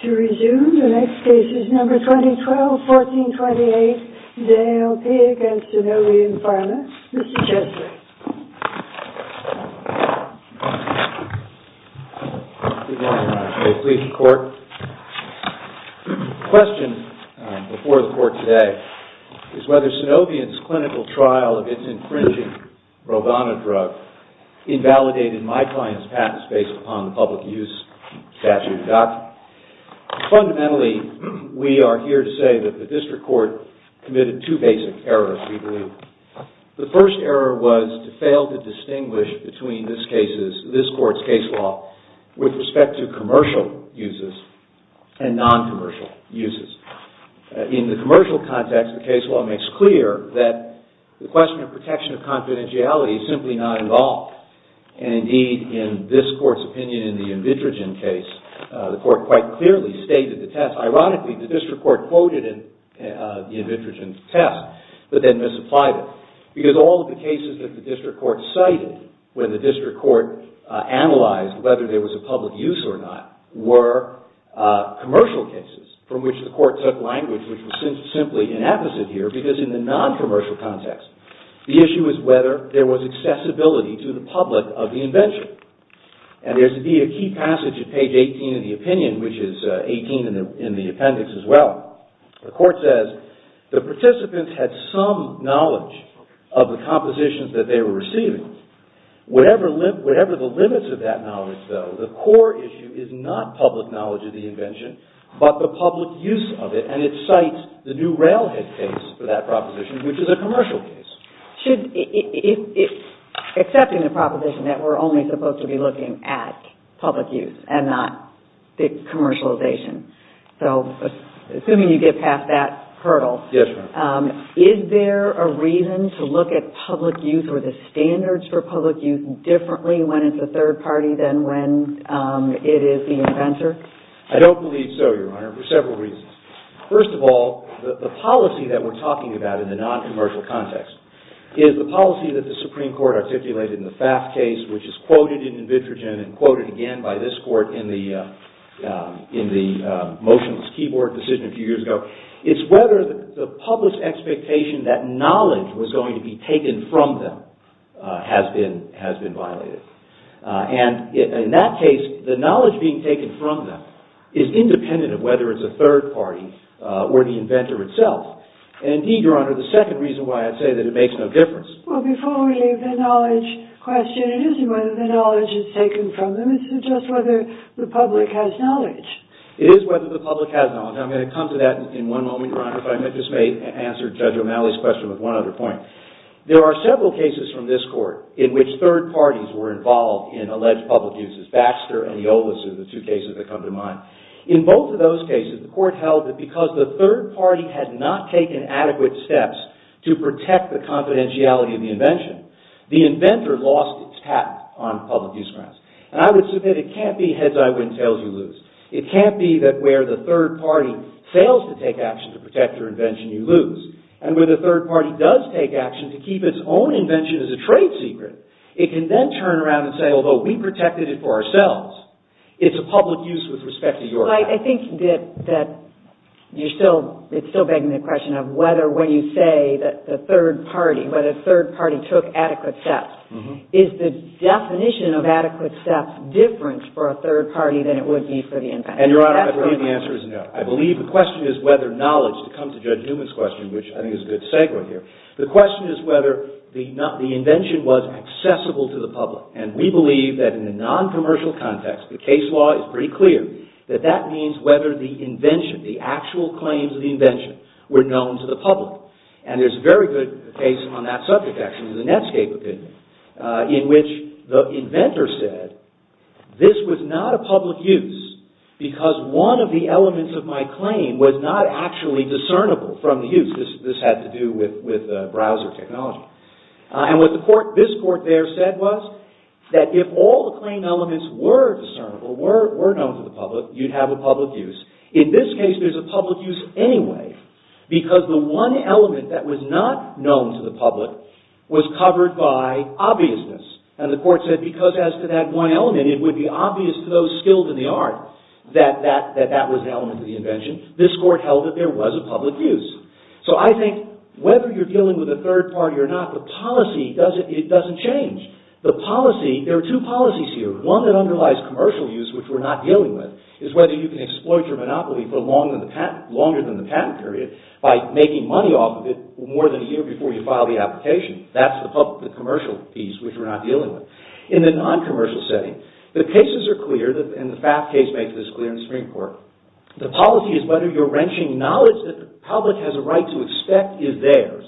To resume, the next case is No. 2012-1428, D.A.L.P. v. SUNOVION PHARMA, Mr. Chesley. Good morning, Your Honor. May it please the Court? The question before the Court today is whether SUNOVION's clinical trial of its infringing on the public use statute adopted. Fundamentally, we are here to say that the District Court committed two basic errors, we believe. The first error was to fail to distinguish between this Court's case law with respect to commercial uses and non-commercial uses. In the commercial context, the case law makes clear that the question of protection of confidentiality is simply not involved. Indeed, in this Court's opinion in the Invidrigin case, the Court quite clearly stated the test. Ironically, the District Court quoted the Invidrigin test, but then misapplied it, because all of the cases that the District Court cited when the District Court analyzed whether there was a public use or not were commercial cases from which the Court took language, which was simply an apposite here, because in the public of the invention. And there's, indeed, a key passage at page 18 of the opinion, which is 18 in the appendix as well. The Court says, the participants had some knowledge of the compositions that they were receiving. Whatever the limits of that knowledge, though, the core issue is not public knowledge of the invention, but the public use of it, and it proposition that we're only supposed to be looking at public use and not commercialization. So, assuming you get past that hurdle, is there a reason to look at public use or the standards for public use differently when it's a third party than when it is the inventor? I don't believe so, Your Honor, for several reasons. First of all, the policy that we're articulated in the FAFT case, which is quoted in Invitrogen and quoted again by this Court in the motionless keyboard decision a few years ago, it's whether the public expectation that knowledge was going to be taken from them has been violated. And in that case, the knowledge being taken from them is independent of whether it's a third party or the inventor itself. And, indeed, Your Honor, the second reason why I say that it makes no difference Well, before we leave the knowledge question, it isn't whether the knowledge is taken from them, it's just whether the public has knowledge. It is whether the public has knowledge. I'm going to come to that in one moment, Your Honor, but I just may answer Judge O'Malley's question with one other point. There are several cases from this Court in which third parties were involved in alleged public uses. Baxter and Iolas are the two cases that come to mind. In both of those cases, the Court held that because the third party had not taken adequate steps to protect the confidentiality of the invention, the inventor lost its patent on public use grounds. And I would submit it can't be heads-I-win, tails-you-lose. It can't be that where the third party fails to take action to protect your invention, you lose. And where the third party does take action to keep its own invention as a trade secret, it can then turn around and say, although we protected it for ourselves, it's a public use with respect to your patent. Well, I think that you're still-it's still begging the question of whether when you say that the third party, when a third party took adequate steps, is the definition of adequate steps different for a third party than it would be for the inventor? And, Your Honor, I believe the answer is no. I believe the question is whether knowledge-to come to Judge Newman's question, which I think is a good segue here-the question is whether the invention was accessible to the public. And we believe that in a noncommercial context, the case law is pretty clear that that means whether the invention, the actual claims of the invention, were known to the public. And there's a very good case on that subject, actually, in the Netscape opinion, in which the inventor said, this was not a public use because one of the elements of my claim was not actually discernible from the use. This had to do with browser technology. And what this court there said was that if all the claim elements were discernible, were known to the public, you'd have a public use. In this case, there's a public use anyway because the one element that was not known to the public was covered by obviousness. And the court said because as to that one element, it would be obvious to those skilled in the art that that was the element of the invention. This court held that there was a public use. So I think whether you're dealing with a third party or not, the policy, it doesn't change. The policy, there are two policies here. One that underlies commercial use, which we're not dealing with, is whether you can exploit your monopoly for longer than the patent period by making money off of it more than a year before you file the application. That's the commercial piece, which we're not dealing with. In the noncommercial setting, the cases are clear, and the FAF case makes this clear in the Supreme Court. The policy is whether your wrenching knowledge that the public has a right to expect is theirs,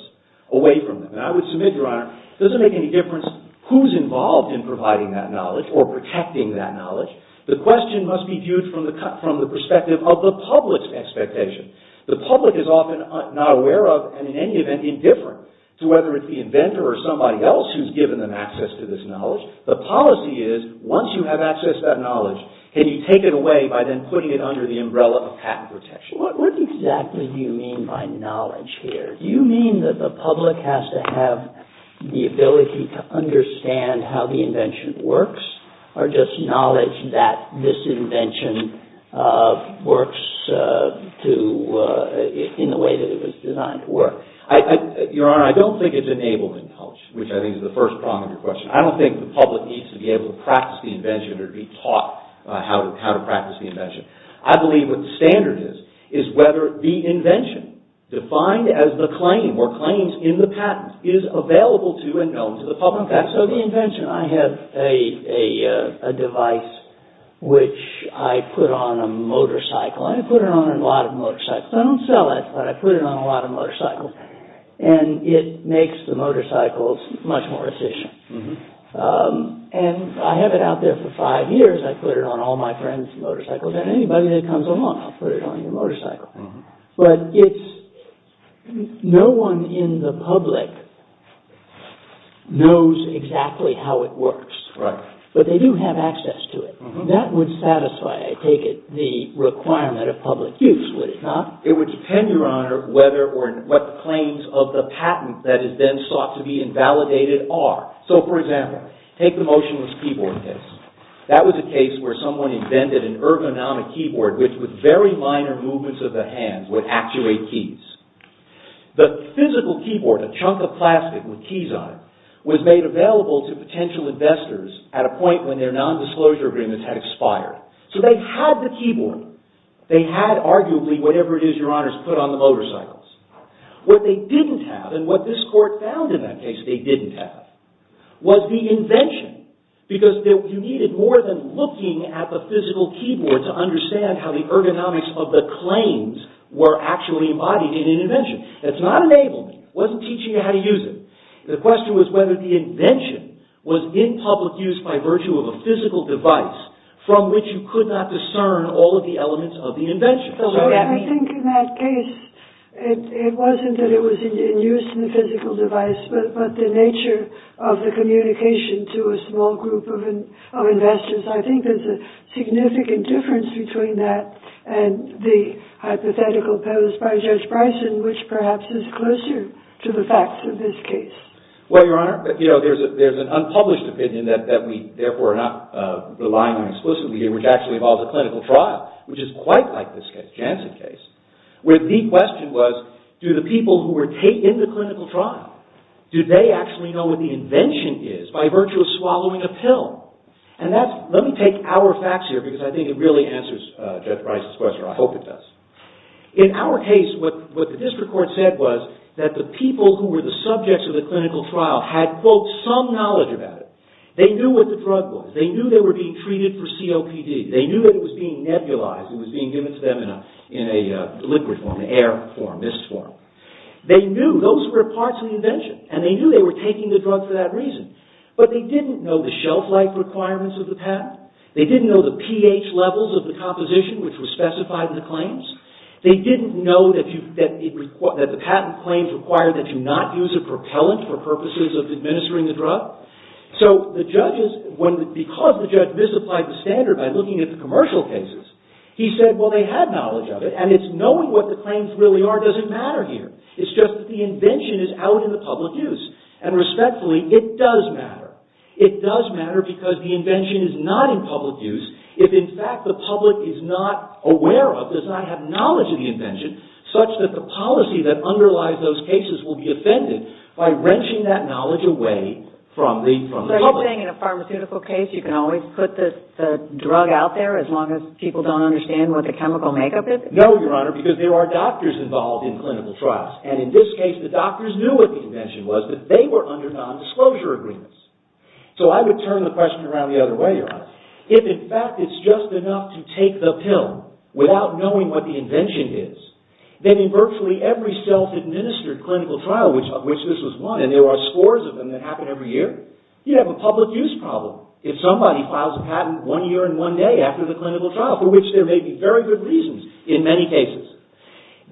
away from them. And I would submit, Your Honor, it doesn't make any difference who's involved in providing that knowledge or protecting that knowledge. The question must be viewed from the perspective of the public's expectation. The public is often not aware of and in any event indifferent to whether it's the inventor or somebody else who's given them access to this knowledge. The policy is once you have access to that knowledge, can you take it away by then putting it under the umbrella of patent protection. What exactly do you mean by knowledge here? Do you mean that the public has to have the ability to understand how the invention works, or just knowledge that this invention works in the way that it was designed to work? Your Honor, I don't think it's enabled in knowledge, which I think is the first prong of your question. I don't think the public needs to be able to practice the invention or be taught how to practice the invention. I believe what the standard is, is whether the invention, defined as the claim or claims in the patent, is available to and known to the public. Okay, so the invention. I have a device which I put on a motorcycle. I put it on a lot of motorcycles. I don't sell it, but I put it on a lot of motorcycles. And it makes the I put it on all my friends' motorcycles, and anybody that comes along, I'll put it on your motorcycle. But no one in the public knows exactly how it works. Right. But they do have access to it. That would satisfy, I take it, the requirement of public use, would it not? It would depend, Your Honor, what claims of the patent that is then sought to be invalidated are. So, for example, take the motionless keyboard case. That was a case where someone invented an ergonomic keyboard which, with very minor movements of the hands, would actuate keys. The physical keyboard, a chunk of plastic with keys on it, was made available to potential investors at a point when their nondisclosure agreements had expired. So they had the keyboard. They had, arguably, whatever it is, Your Honors, put on the motorcycles. What they didn't have, and what this Court found in that case they didn't have, was the invention. Because you needed more than looking at the physical keyboard to understand how the ergonomics of the claims were actually embodied in an invention. It's not enablement. It wasn't teaching you how to use it. The question was whether the invention was in public use by virtue of a physical device from which you could not discern all of the elements of the invention. I think in that case, it wasn't that it was in use in the physical device, but the nature of the communication to a small group of investors. I think there's a significant difference between that and the hypothetical posed by Judge Bryson, which perhaps is closer to the facts of this case. Well, Your Honor, there's an unpublished opinion that we, therefore, are not relying on explicitly here, which actually involves a clinical trial, which is quite like this Janssen case, where the question was, do the people who were in the clinical trial, do they actually know what the invention is by virtue of swallowing a pill? Let me take our facts here, because I think it really answers Judge Bryson's question, or I hope it does. In our case, what the District Court said was that the people who were the subjects of the clinical trial had, quote, some knowledge about it. They knew what the drug was. They knew they were being treated for COPD. They knew that it was being nebulized. It was being given to them in a liquid form, an air form, mist form. They knew those were parts of the invention, and they knew they were taking the drug for that reason, but they didn't know the shelf-life requirements of the patent. They didn't know the pH levels of the composition, which were specified in the claims. They didn't know that the patent claims required that you not use a propellant for purposes of administering the drug. So, the judges, because the judge misapplied the standard by looking at the commercial cases, he said, well, they had knowledge of it, and it's knowing what the claims really are doesn't matter here. It's just that the invention is out in the public use, and respectfully, it does matter. It does matter because the invention is not in public use if, in fact, the public is not aware of, does not have knowledge of the invention, such that the policy that underlies those cases will be offended by wrenching that knowledge away from the public. So, you're saying in a pharmaceutical case, you can always put the drug out there as long as people don't understand what the chemical makeup is? No, Your Honor, because there are doctors involved in clinical trials, and in this case, the doctors knew what the invention was, but they were under nondisclosure agreements. So, I would turn the question around the other way, Your Honor. If, in fact, it's just enough to take the pill without knowing what the invention is, then in virtually every self-administered clinical trial, of which this was one, and there are scores of them that happen every year, you'd have a public use problem if somebody files a patent one year and one day after the clinical trial, for which there may be very good reasons in many cases.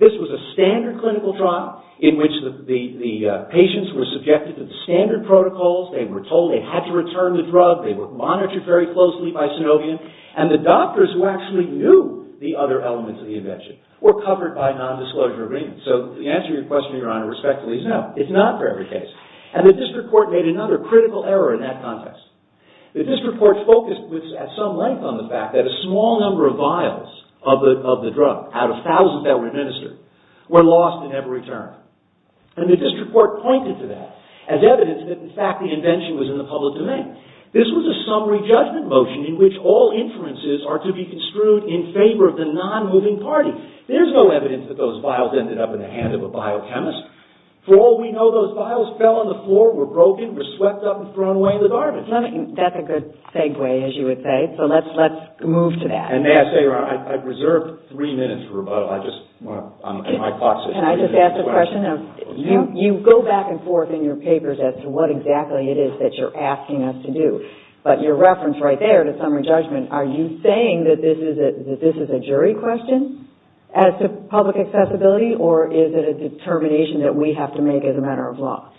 This was a standard clinical trial in which the patients were subjected to the standard protocols, they were told they had to return the drug, they were monitored very closely by Sinovian, and the doctors who actually knew the other elements of the invention were covered by nondisclosure agreements. So, the answer to your question, Your Honor, respectfully, is no. It's not for every case. And the district court made another critical error in that context. The district court focused at some length on the fact that a small number of vials of the drug, out of thousands that were administered, were lost in every turn. And the district court pointed to that as evidence that, in fact, the invention was in the public domain. This was a summary judgment motion in which all inferences are to be construed in favor of the non-moving party. There's no evidence that those vials ended up in the hands of a biochemist. For all we know, those vials fell on the floor, were broken, were swept up and thrown away in the garbage. That's a good segue, as you would say. So, let's move to that. And may I say, Your Honor, I've reserved three minutes for rebuttal. I just... Can I just ask a question? You go back and forth in your papers as to what exactly it is that you're asking us to do, but your reference right there to summary judgment, are you saying that this is a jury question as to public accessibility, or is it a determination that we have to make as a matter of law?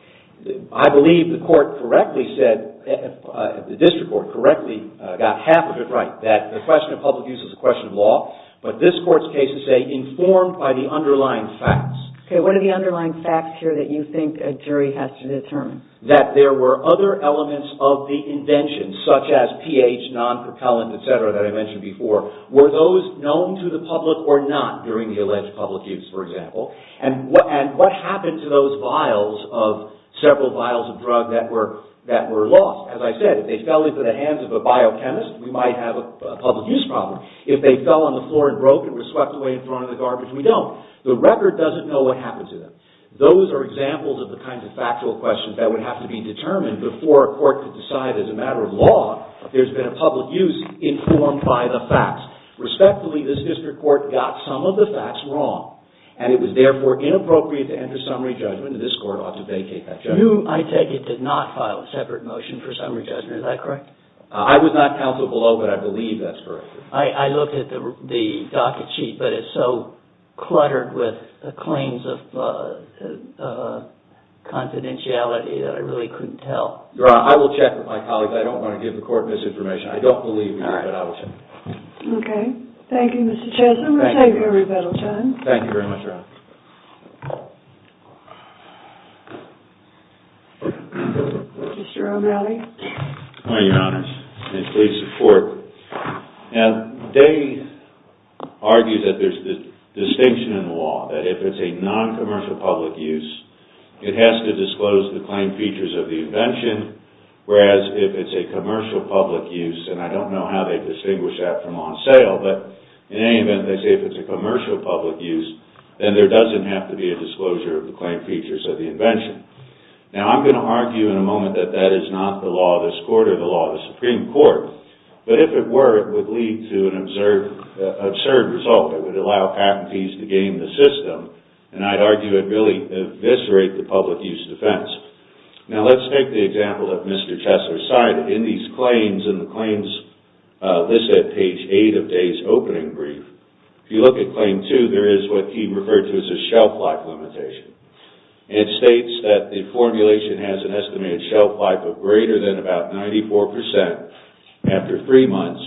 I believe the court correctly said, the district court correctly got half of it right, that the question of public use is a question of law, but this court's case is, say, informed by the underlying facts. Okay, what are the underlying facts here that you think a jury has to determine? That there were other elements of the invention, such as pH, non-propellant, etc. that I mentioned before. Were those known to the public or not during the alleged public use, for example? And what happened to those vials of several vials of drug that were lost? As I said, if they fell into the hands of a biochemist, we might have a public use problem. If they fell on the floor and broke and were swept away and thrown in the garbage, we don't. The record doesn't know what happened to them. Those are examples of the kinds of factual questions that would have to be determined before a court could decide, as a matter of law, there's been a public use informed by the facts. Respectfully, this district court got some of the facts wrong, and it was therefore inappropriate to enter summary judgment, and this court ought to vacate that judgment. You, I take it, did not file a separate motion for summary judgment, is that correct? I was not counsel below, but I believe that's correct. I looked at the docket sheet, but it's so cluttered with claims of confidentiality that I really couldn't tell. Your Honor, I will check with my colleagues. I don't want to give the court misinformation. I don't believe you, but I will check. Okay. Thank you, Mr. Chesler. We'll take every bit of time. Thank you very much, Your Honor. Mr. O'Malley. Good morning, Your Honor, and please support. Now, they argue that there's a distinction in the law, that if it's a non-commercial public use, it has to disclose the claim features of the invention, whereas if it's a commercial public use, and I don't know how they distinguish that from on sale, but in any event, they say if it's a commercial public use, then there doesn't have to be a disclosure of the claim features of the invention. Now, I'm going to argue in a moment that that is not the law of this court or the law of the Supreme Court, but if it were, it would lead to an absurd result that would allow patentees to game the system, and I'd argue it would really eviscerate the public use defense. Now, let's take the example that Mr. Chesler cited. In these claims, in the claims listed at page 8 of today's opening brief, if you look at the shelf life limitation, it states that the formulation has an estimated shelf life of greater than about 94% after three months,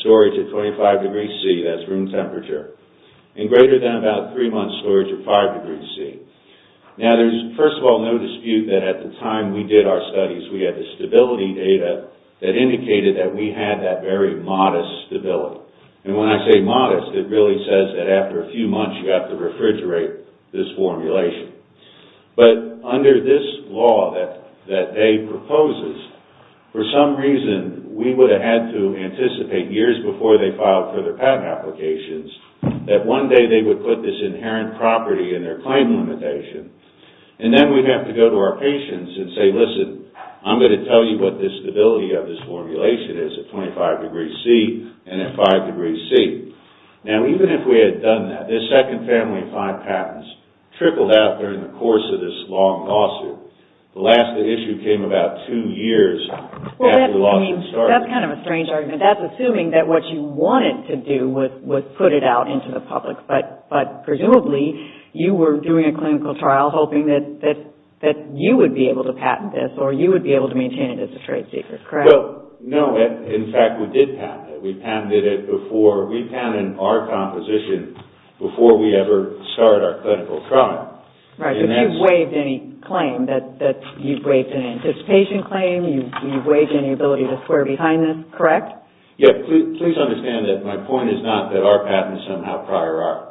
storage at 25 degrees C, that's room temperature, and greater than about three months storage at 5 degrees C. Now, there's, first of all, no dispute that at the time we did our studies, we had the stability data that indicated that we had that very modest stability, and when I say formulation. But under this law that they propose, for some reason, we would have had to anticipate years before they filed further patent applications that one day they would put this inherent property in their claim limitation, and then we'd have to go to our patients and say, listen, I'm going to tell you what the stability of this formulation is at 25 degrees C and at 5 degrees C. Now, even if we had done that, this second family of five patents trickled out during the course of this long lawsuit. The last issue came about two years after the lawsuit started. Well, that's kind of a strange argument. That's assuming that what you wanted to do was put it out into the public, but presumably you were doing a clinical trial hoping that you would be able to patent this or you would be able to maintain it as a trade secret, correct? Well, no. In fact, we did patent it. We patented our composition before we ever started our clinical trial. Right, but you've waived any claim. You've waived an anticipation claim. You've waived any ability to square behind this, correct? Yes. Please understand that my point is not that our patent is somehow prior art.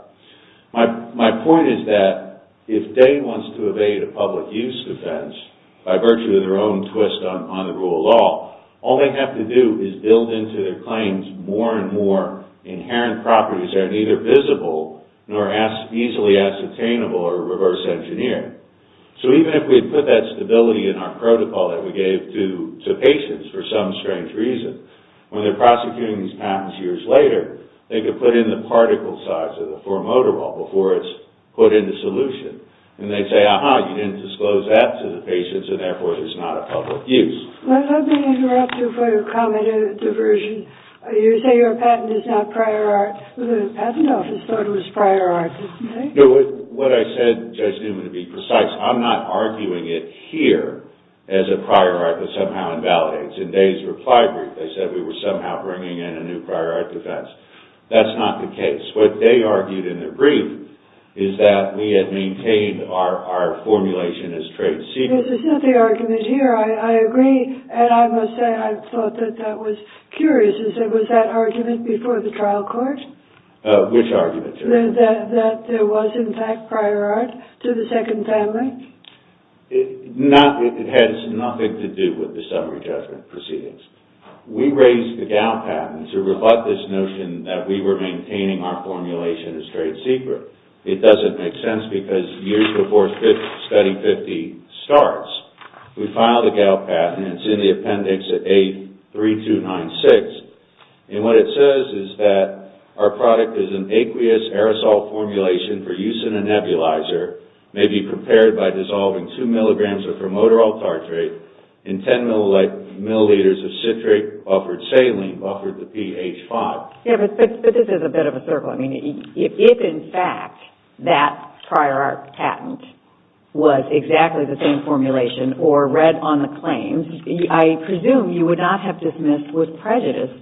My point is that if they want to evade a public use defense by virtue of their own twist on the rule of law, all they have to do is build into their claims more and more inherent properties that are neither visible nor easily ascertainable or reverse engineered. So even if we had put that stability in our protocol that we gave to patients for some strange reason, when they're prosecuting these patents years later, they could put in the particle size of the four motor ball before it's put in the solution, and they'd say, Let me interrupt you for your comment on diversion. You say your patent is not prior art. The patent office thought it was prior art, didn't they? No, what I said, Judge Newman, to be precise, I'm not arguing it here as a prior art that somehow invalidates. In Day's reply brief, they said we were somehow bringing in a new prior art defense. That's not the case. What Day argued in the brief is that we had maintained our formulation as trade secret. Yes, it's not the argument here. I agree, and I must say I thought that that was curious. Was that argument before the trial court? Which argument, Judge? That there was, in fact, prior art to the second family? It has nothing to do with the summary judgment proceedings. We raised the Dow patent to rebut this notion that we were maintaining our formulation as trade secret. It doesn't make sense because years before Study 50 starts, we filed a Dow patent, and it's in the appendix at A3296. What it says is that our product is an aqueous aerosol formulation for use in a nebulizer, may be prepared by dissolving two milligrams of promoterol tartrate in ten milliliters of citric-buffered saline, buffered to pH 5. But this is a bit of a circle. If, in fact, that prior art patent was exactly the same formulation or read on the claims, I presume you would not have dismissed with prejudice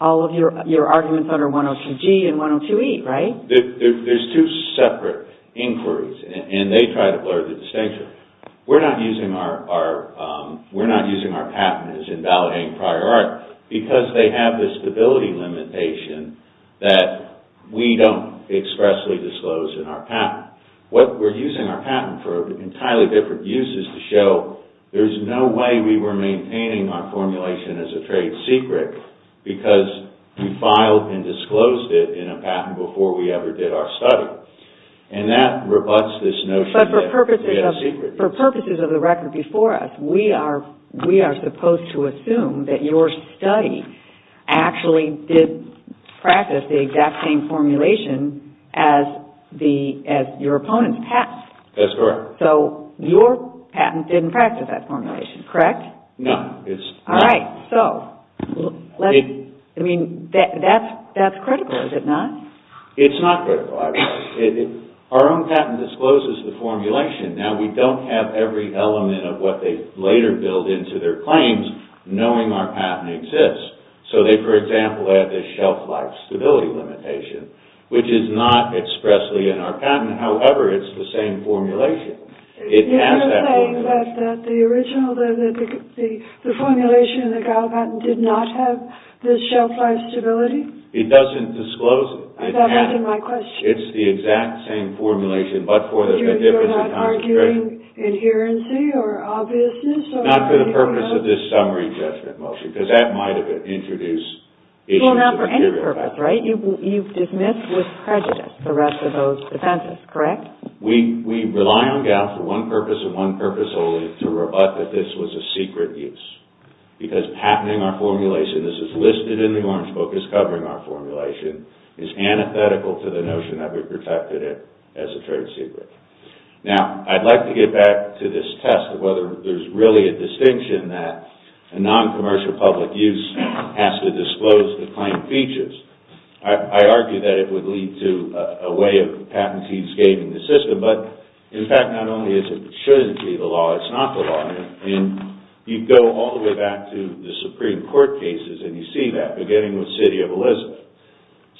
all of your arguments under 102G and 102E, right? There's two separate inquiries, and they try to blur the distinction. We're not using our patent as invalidating prior art because they have this stability limitation that we don't expressly disclose in our patent. We're using our patent for entirely different uses to show there's no way we were maintaining our formulation as a trade secret because we filed and disclosed it in a patent before we ever did our study. And that rebuts this notion that it's a trade secret. But for purposes of the record before us, we are supposed to assume that your study actually did practice the exact same formulation as your opponent's patent. That's correct. So, your patent didn't practice that formulation, correct? No. All right. So, that's critical, is it not? It's not critical. Our own patent discloses the formulation. Now, we don't have every element of what they later build into their claims knowing our patent. So, they, for example, have this shelf-life stability limitation, which is not expressly in our patent. However, it's the same formulation. It has that formulation. You're saying that the original, the formulation in the Gallup patent did not have this shelf-life stability? It doesn't disclose it. That wasn't my question. It's the exact same formulation but for a different concentration. You're not arguing adherency or obviousness? Not for the purpose of this summary judgment motion because that might have introduced Well, not for any purpose, right? You've dismissed with prejudice the rest of those offenses, correct? We rely on Gallup for one purpose and one purpose only to rebut that this was a secret use because patenting our formulation, this is listed in the orange book as covering our formulation, is antithetical to the notion that we protected it as a trade secret. Now, I'd like to get back to this test of whether there's really a distinction that a non-commercial public use has to disclose the claimed features. I argue that it would lead to a way of patentees gaining the system but, in fact, not only is it that it shouldn't be the law, it's not the law. And you go all the way back to the Supreme Court cases and you see that beginning with City of Elizabeth.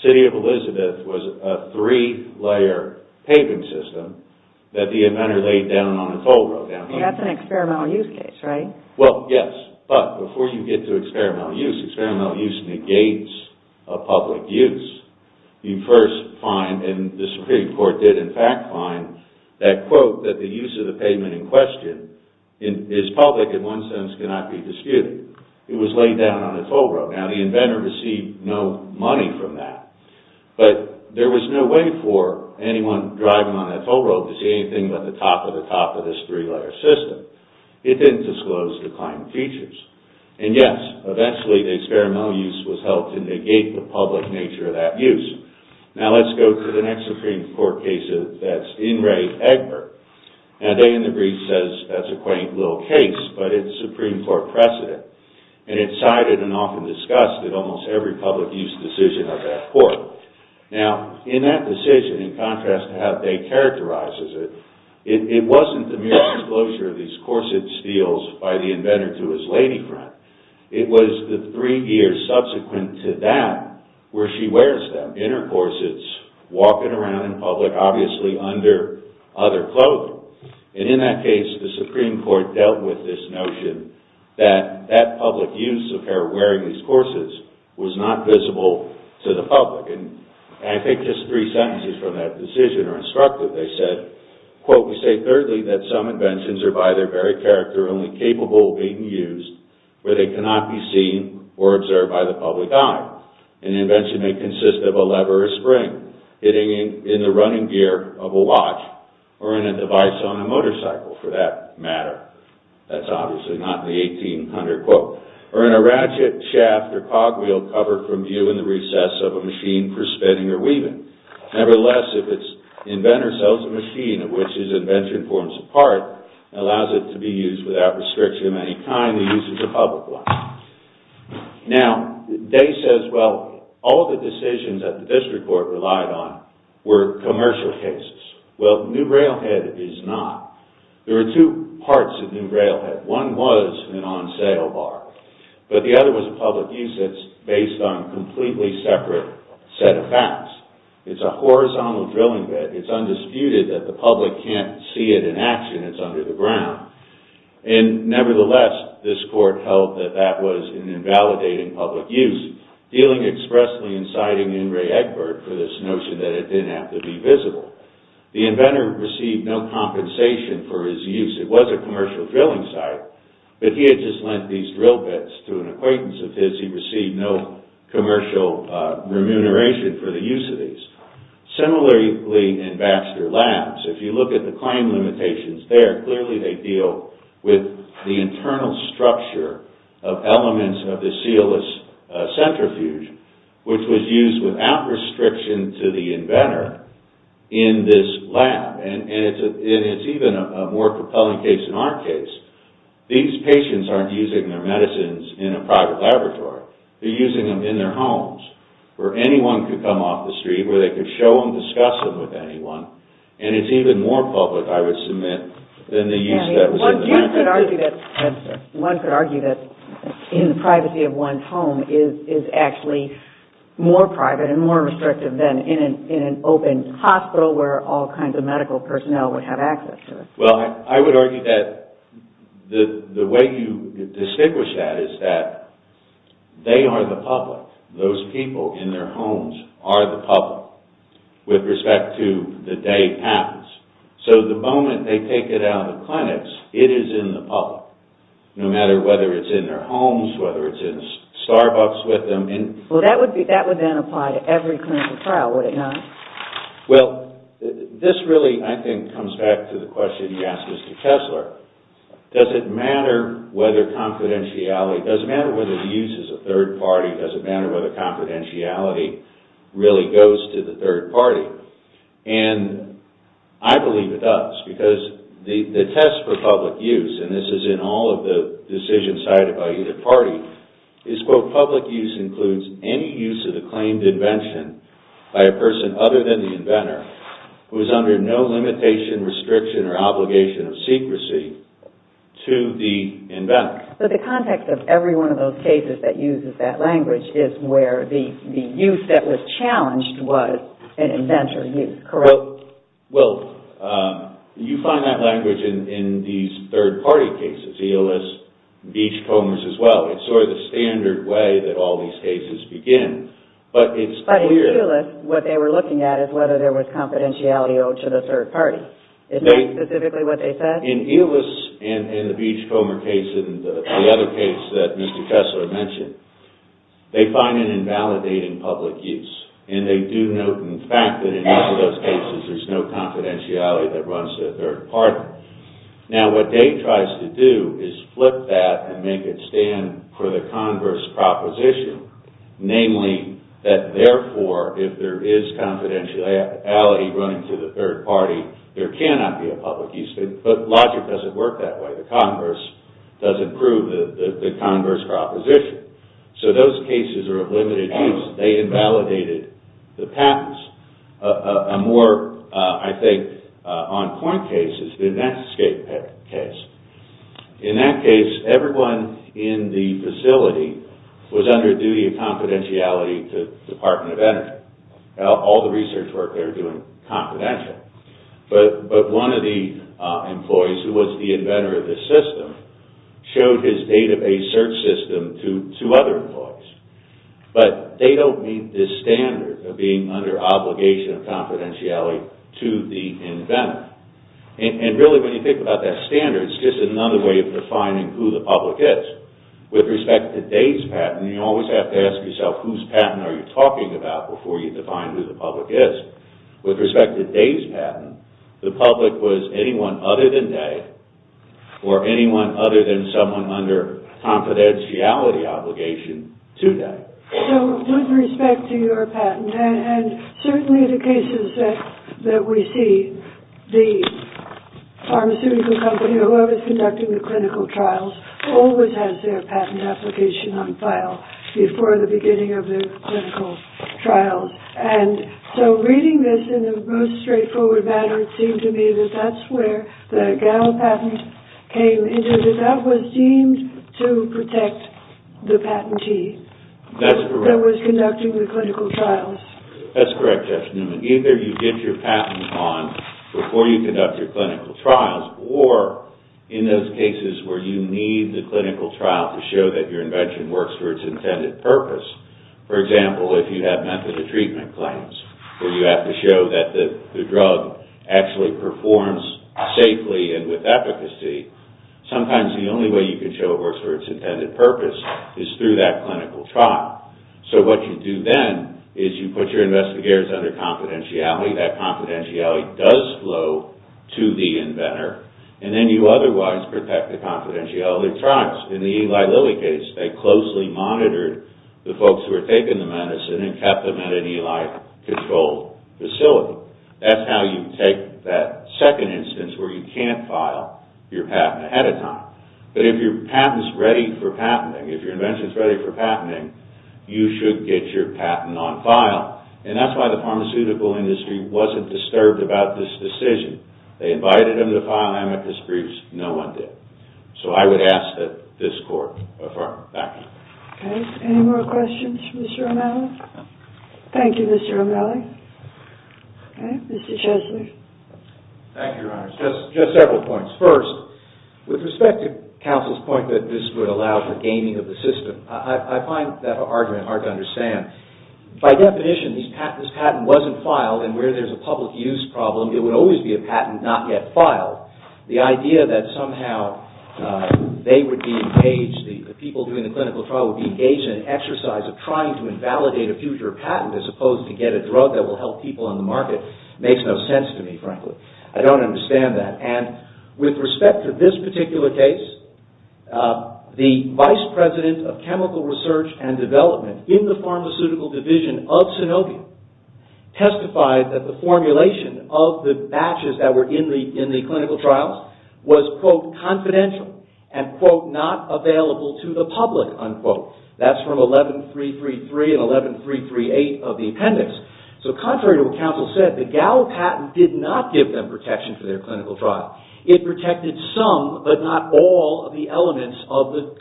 City of Elizabeth was a three-layer paving system that the inventor laid down on a toll road. That's an experimental use case, right? Well, yes. But before you get to experimental use, experimental use negates a public use. You first find, and the Supreme Court did in fact find, that quote that the use of the pavement in question is public in one sense cannot be disputed. It was laid down on a toll road. Now, the inventor received no money from that. But there was no way for anyone driving on that toll road to see anything but the top of the top of this three-layer system. It didn't disclose the claimed features. And, yes, eventually the experimental use was held to negate the public nature of that use. Now, let's go to the next Supreme Court case that's in Ray Egbert. Now, they in the brief says that's a quaint little case but it's Supreme Court precedent. And it's cited and often discussed in almost every public use decision of that court. Now, in that decision, in contrast to how they characterized it, it wasn't the mere disclosure of these corset steels by the inventor to his lady friend. It was the three years subsequent to that where she wears them in her corsets, walking around in public, obviously under other clothing. And in that case, the Supreme Court dealt with this notion that that public use of her wearing these corsets was not visible to the public. And I think just three sentences from that decision are instructive. They said, quote, we say thirdly that some inventions are by their very character only capable of being used where they cannot be seen or observed by the public eye. An invention may consist of a lever or spring hitting in the running gear of a watch or even a device on a motorcycle for that matter. That's obviously not in the 1800 quote. Or in a ratchet, shaft, or cog wheel covered from view in the recess of a machine for spinning or weaving. Nevertheless, if its inventor sells a machine of which his invention forms a part and allows it to be used without restriction of any kind, the use is a public one. Now, they says, well, all the decisions that the district court relied on were commercial cases. Well, New Railhead is not. There are two parts of New Railhead. One was an on-sale bar. But the other was a public use that's based on a completely separate set of facts. It's a horizontal drilling bit. It's undisputed that the public can't see it in action. It's under the ground. And nevertheless, this court held that that was an invalidating public use, dealing expressly for this notion that it didn't have to be visible. The inventor received no compensation for his use. It was a commercial drilling site. But he had just lent these drill bits to an acquaintance of his. He received no commercial remuneration for the use of these. Similarly in Baxter Labs, if you look at the claim limitations there, clearly they deal with the internal structure of elements of the sealless centrifuge, which was used without restriction to the inventor in this lab. And it's even a more compelling case in our case. These patients aren't using their medicines in a private laboratory. They're using them in their homes, where anyone could come off the street, where they could show them, discuss them with anyone. And it's even more public, I would submit, than the use that was in the lab. One could argue that in the privacy of one's home is actually more private and more restrictive than in an open hospital, where all kinds of medical personnel would have access to it. Well, I would argue that the way you distinguish that is that they are the public. Those people in their homes are the public, with respect to the day it happens. So the moment they take it out of the clinics, it is in the public. No matter whether it's in their homes, whether it's in Starbucks with them. Well, that would then apply to every clinical trial, would it not? Well, this really, I think, comes back to the question you asked Mr. Kessler. Does it matter whether confidentiality, does it matter whether the use is a third party, does it matter whether confidentiality really goes to the third party? And I believe it does, because the test for public use, and this is in all of the decision cited by either party, is, quote, public use includes any use of the claimed invention by a person other than the inventor, who is under no limitation, restriction, or obligation of secrecy to the inventor. So the context of every one of those cases that uses that language is where the use that was challenged was an inventor use, correct? Well, you find that language in these third party cases. ELS, each homes as well. It's sort of the standard way that all these cases begin, but it's clear... But in ELS, what they were looking at is whether there was confidentiality owed to the third party. Is that specifically what they said? In ELS, and in the Beachcomber case, and the other case that Mr. Kessler mentioned, they find it invalidating public use. And they do note, in fact, that in most of those cases there's no confidentiality that runs to the third party. Now, what Dave tries to do is flip that and make it stand for the converse proposition, namely that therefore, if there is confidentiality running to the third party, there cannot be a public use. But logic doesn't work that way. The converse doesn't prove the converse proposition. So those cases are of limited use. They invalidated the patents. A more, I think, on point case is the Netscape case. In that case, everyone in the facility was under duty of confidentiality to the Department of Energy. All the research work they were doing was confidential. But one of the employees, who was the inventor of the system, showed his database search system to two other employees. But they don't meet this standard of being under obligation of confidentiality to the inventor. And really, when you think about that standard, it's just another way of defining who the public is. With respect to Dave's patent, you always have to ask yourself, whose patent are you talking about before you define who the public is? With respect to Dave's patent, the public was anyone other than Dave or anyone other than someone under confidentiality obligation to Dave. So with respect to your patent, and certainly the cases that we see, the pharmaceutical company or whoever's conducting the clinical trials always has their patent application on file before the beginning of their clinical trials. And so reading this in the most straightforward manner, it seemed to me that that's where the GAL patent came into it. That was deemed to protect the patentee. That's correct. That was conducting the clinical trials. That's correct, Jeff Newman. Either you get your patent on before you conduct your clinical trials or in those cases where you need the clinical trial to show that your invention works for its intended purpose. For example, if you have method of treatment claims where you have to show that the drug actually performs safely and with efficacy, sometimes the only way you can show it works for its intended purpose is through that clinical trial. So what you do then is you put your investigators under confidentiality. That confidentiality does flow to the inventor. And then you otherwise protect the confidentiality of trials. In the Eli Lilly case, they closely monitored the folks who were taking the medicine and kept them in an Eli controlled facility. That's how you take that second instance where you can't file your patent ahead of time. But if your patent is ready for patenting, if your invention is ready for patenting, you should get your patent on file. And that's why the pharmaceutical industry wasn't disturbed about this decision. They invited them to file amicus briefs. No one did. So I would ask that this court affirm. Thank you. Okay. Any more questions for Mr. O'Malley? Thank you, Mr. O'Malley. Okay. Mr. Chesley. Thank you, Your Honor. Just several points. First, with respect to counsel's point that this would allow for gaming of the system, I find that hard to understand. By definition, if this patent wasn't filed and where there's a public use problem, it would always be a patent not yet filed. The idea that somehow they would be engaged, the people doing the clinical trial would be engaged in an exercise of trying to invalidate a future patent as opposed to get a drug that will help people on the market makes no sense to me, frankly. I don't understand that. And with respect to this particular case, the vice president of chemical research and development in the pharmaceutical division of Synovium testified that the formulation of the batches that were in the clinical trials was, quote, confidential and, quote, not available to the public, unquote. That's from 11333 and 11338 of the appendix. So contrary to what counsel said, the Gallup patent did not give them protection for their clinical trial. It protected some, but not all, of the elements of the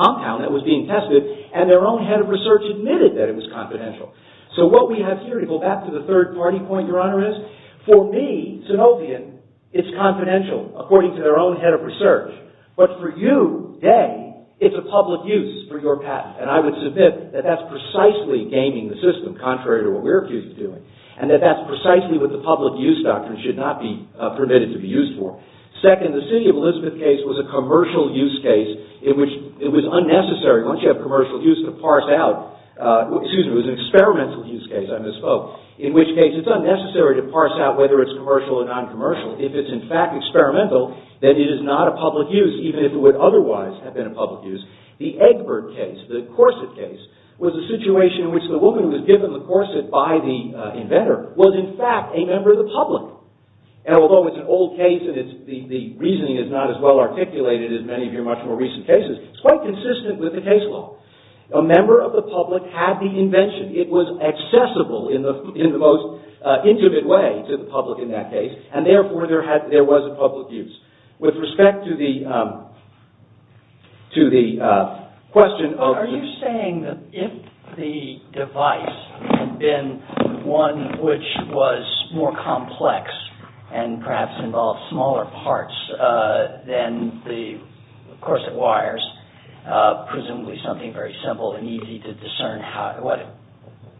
compound that was being tested, and their own head of research admitted that it was confidential. So what we have here, to go back to the third party point, Your Honor, is for me, Synovium, it's confidential, according to their own head of research. But for you, they, it's a public use for your patent. And I would submit that that's precisely gaming the system, contrary to what we're accused of doing, and that that's precisely what the public use doctrine should not be permitted to be used for. Second, the City of Elizabeth case was a commercial use case in which it was unnecessary, once you have commercial use, to parse out, excuse me, it was an experimental use case, I misspoke, in which case it's unnecessary to parse out whether it's commercial or non-commercial. If it's, in fact, experimental, then it is not a public use, even if it would otherwise have been a public use. The Egbert case, the Corset case, was a situation in which the woman who was given the corset by the inventor was, in fact, a member of the public. And although it's an old case, and the reasoning is not as well articulated as many of your much more recent cases, it's quite consistent with the case law. A member of the public had the invention. It was accessible in the most intimate way to the public in that case, and therefore there was a public use. With respect to the question of... Are you saying that if the device had been one which was more complex and perhaps involved smaller parts than the corset wires, presumably something very simple and easy to discern what it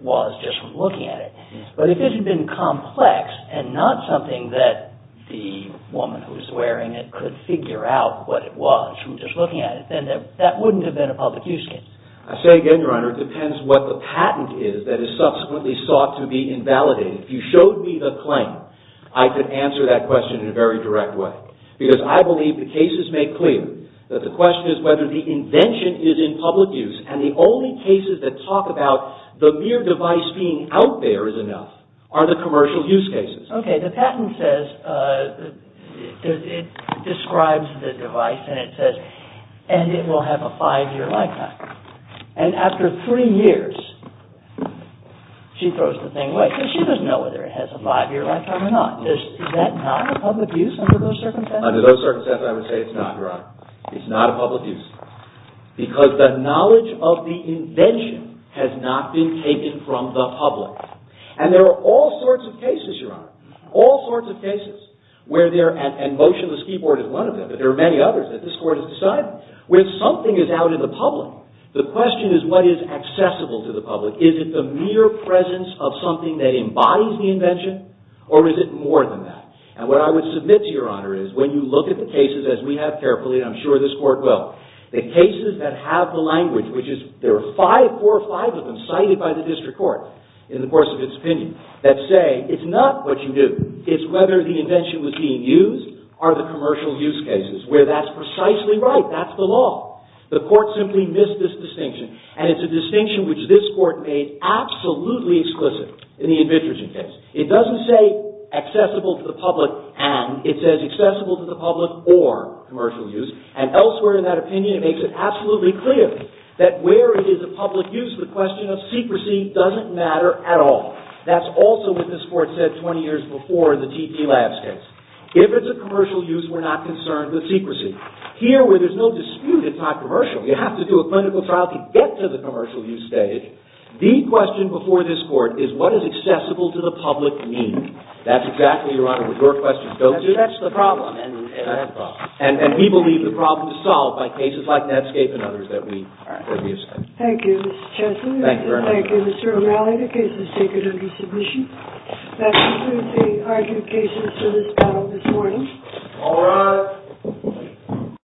was just from looking at it, but if it had been complex and not something that the woman who was wearing it could figure out what it was from just looking at it, then that wouldn't have been a public use case? I say again, Your Honor, it depends what the patent is that is subsequently sought to be invalidated. If you showed me the claim, I could answer that question in a very direct way. Because I believe the cases make clear that the question is whether the invention is in public use, and the only cases that talk about the mere device being out there is enough are the commercial use cases. Okay. The patent says... It describes the device and it says, and it will have a five-year lifetime. And after three years, she throws the thing away because she doesn't know whether it has a five-year lifetime or not. Is that not a public use under those circumstances? Under those circumstances, I would say it's not, Your Honor. It's not a public use. Because the knowledge of the invention has not been taken from the public. And there are all sorts of cases, Your Honor, all sorts of cases where there... And motionless keyboard is one of them, but there are many others that this Court has decided. When something is out in the public, the question is what is accessible to the public. Is it the mere presence of something that embodies the invention, or is it more than that? And what I would submit to Your Honor is when you look at the cases, as we have carefully, and I'm sure this Court will, the cases that have the language, which is... cited by the district court in the course of its opinion, that say it's not what you do. It's whether the invention was being used, or the commercial use cases, where that's precisely right. That's the law. The Court simply missed this distinction. And it's a distinction which this Court made absolutely explicit in the administration case. It doesn't say accessible to the public and. It says accessible to the public or commercial use. And elsewhere in that opinion, it makes it absolutely clear that where it is a public use, the question of secrecy doesn't matter at all. That's also what this Court said 20 years before the TT Labs case. If it's a commercial use, we're not concerned with secrecy. Here, where there's no dispute, it's not commercial. You have to do a clinical trial to get to the commercial use stage. The question before this Court is what is accessible to the public mean. That's exactly, Your Honor, what your question goes to. That's the problem. And we believe the problem is solved by cases like Netscape and others that we have studied. Thank you, Mr. Chancellor. Thank you, Your Honor. Thank you, Mr. O'Malley. The case is taken under submission. That concludes the argument cases for this panel this morning. All rise.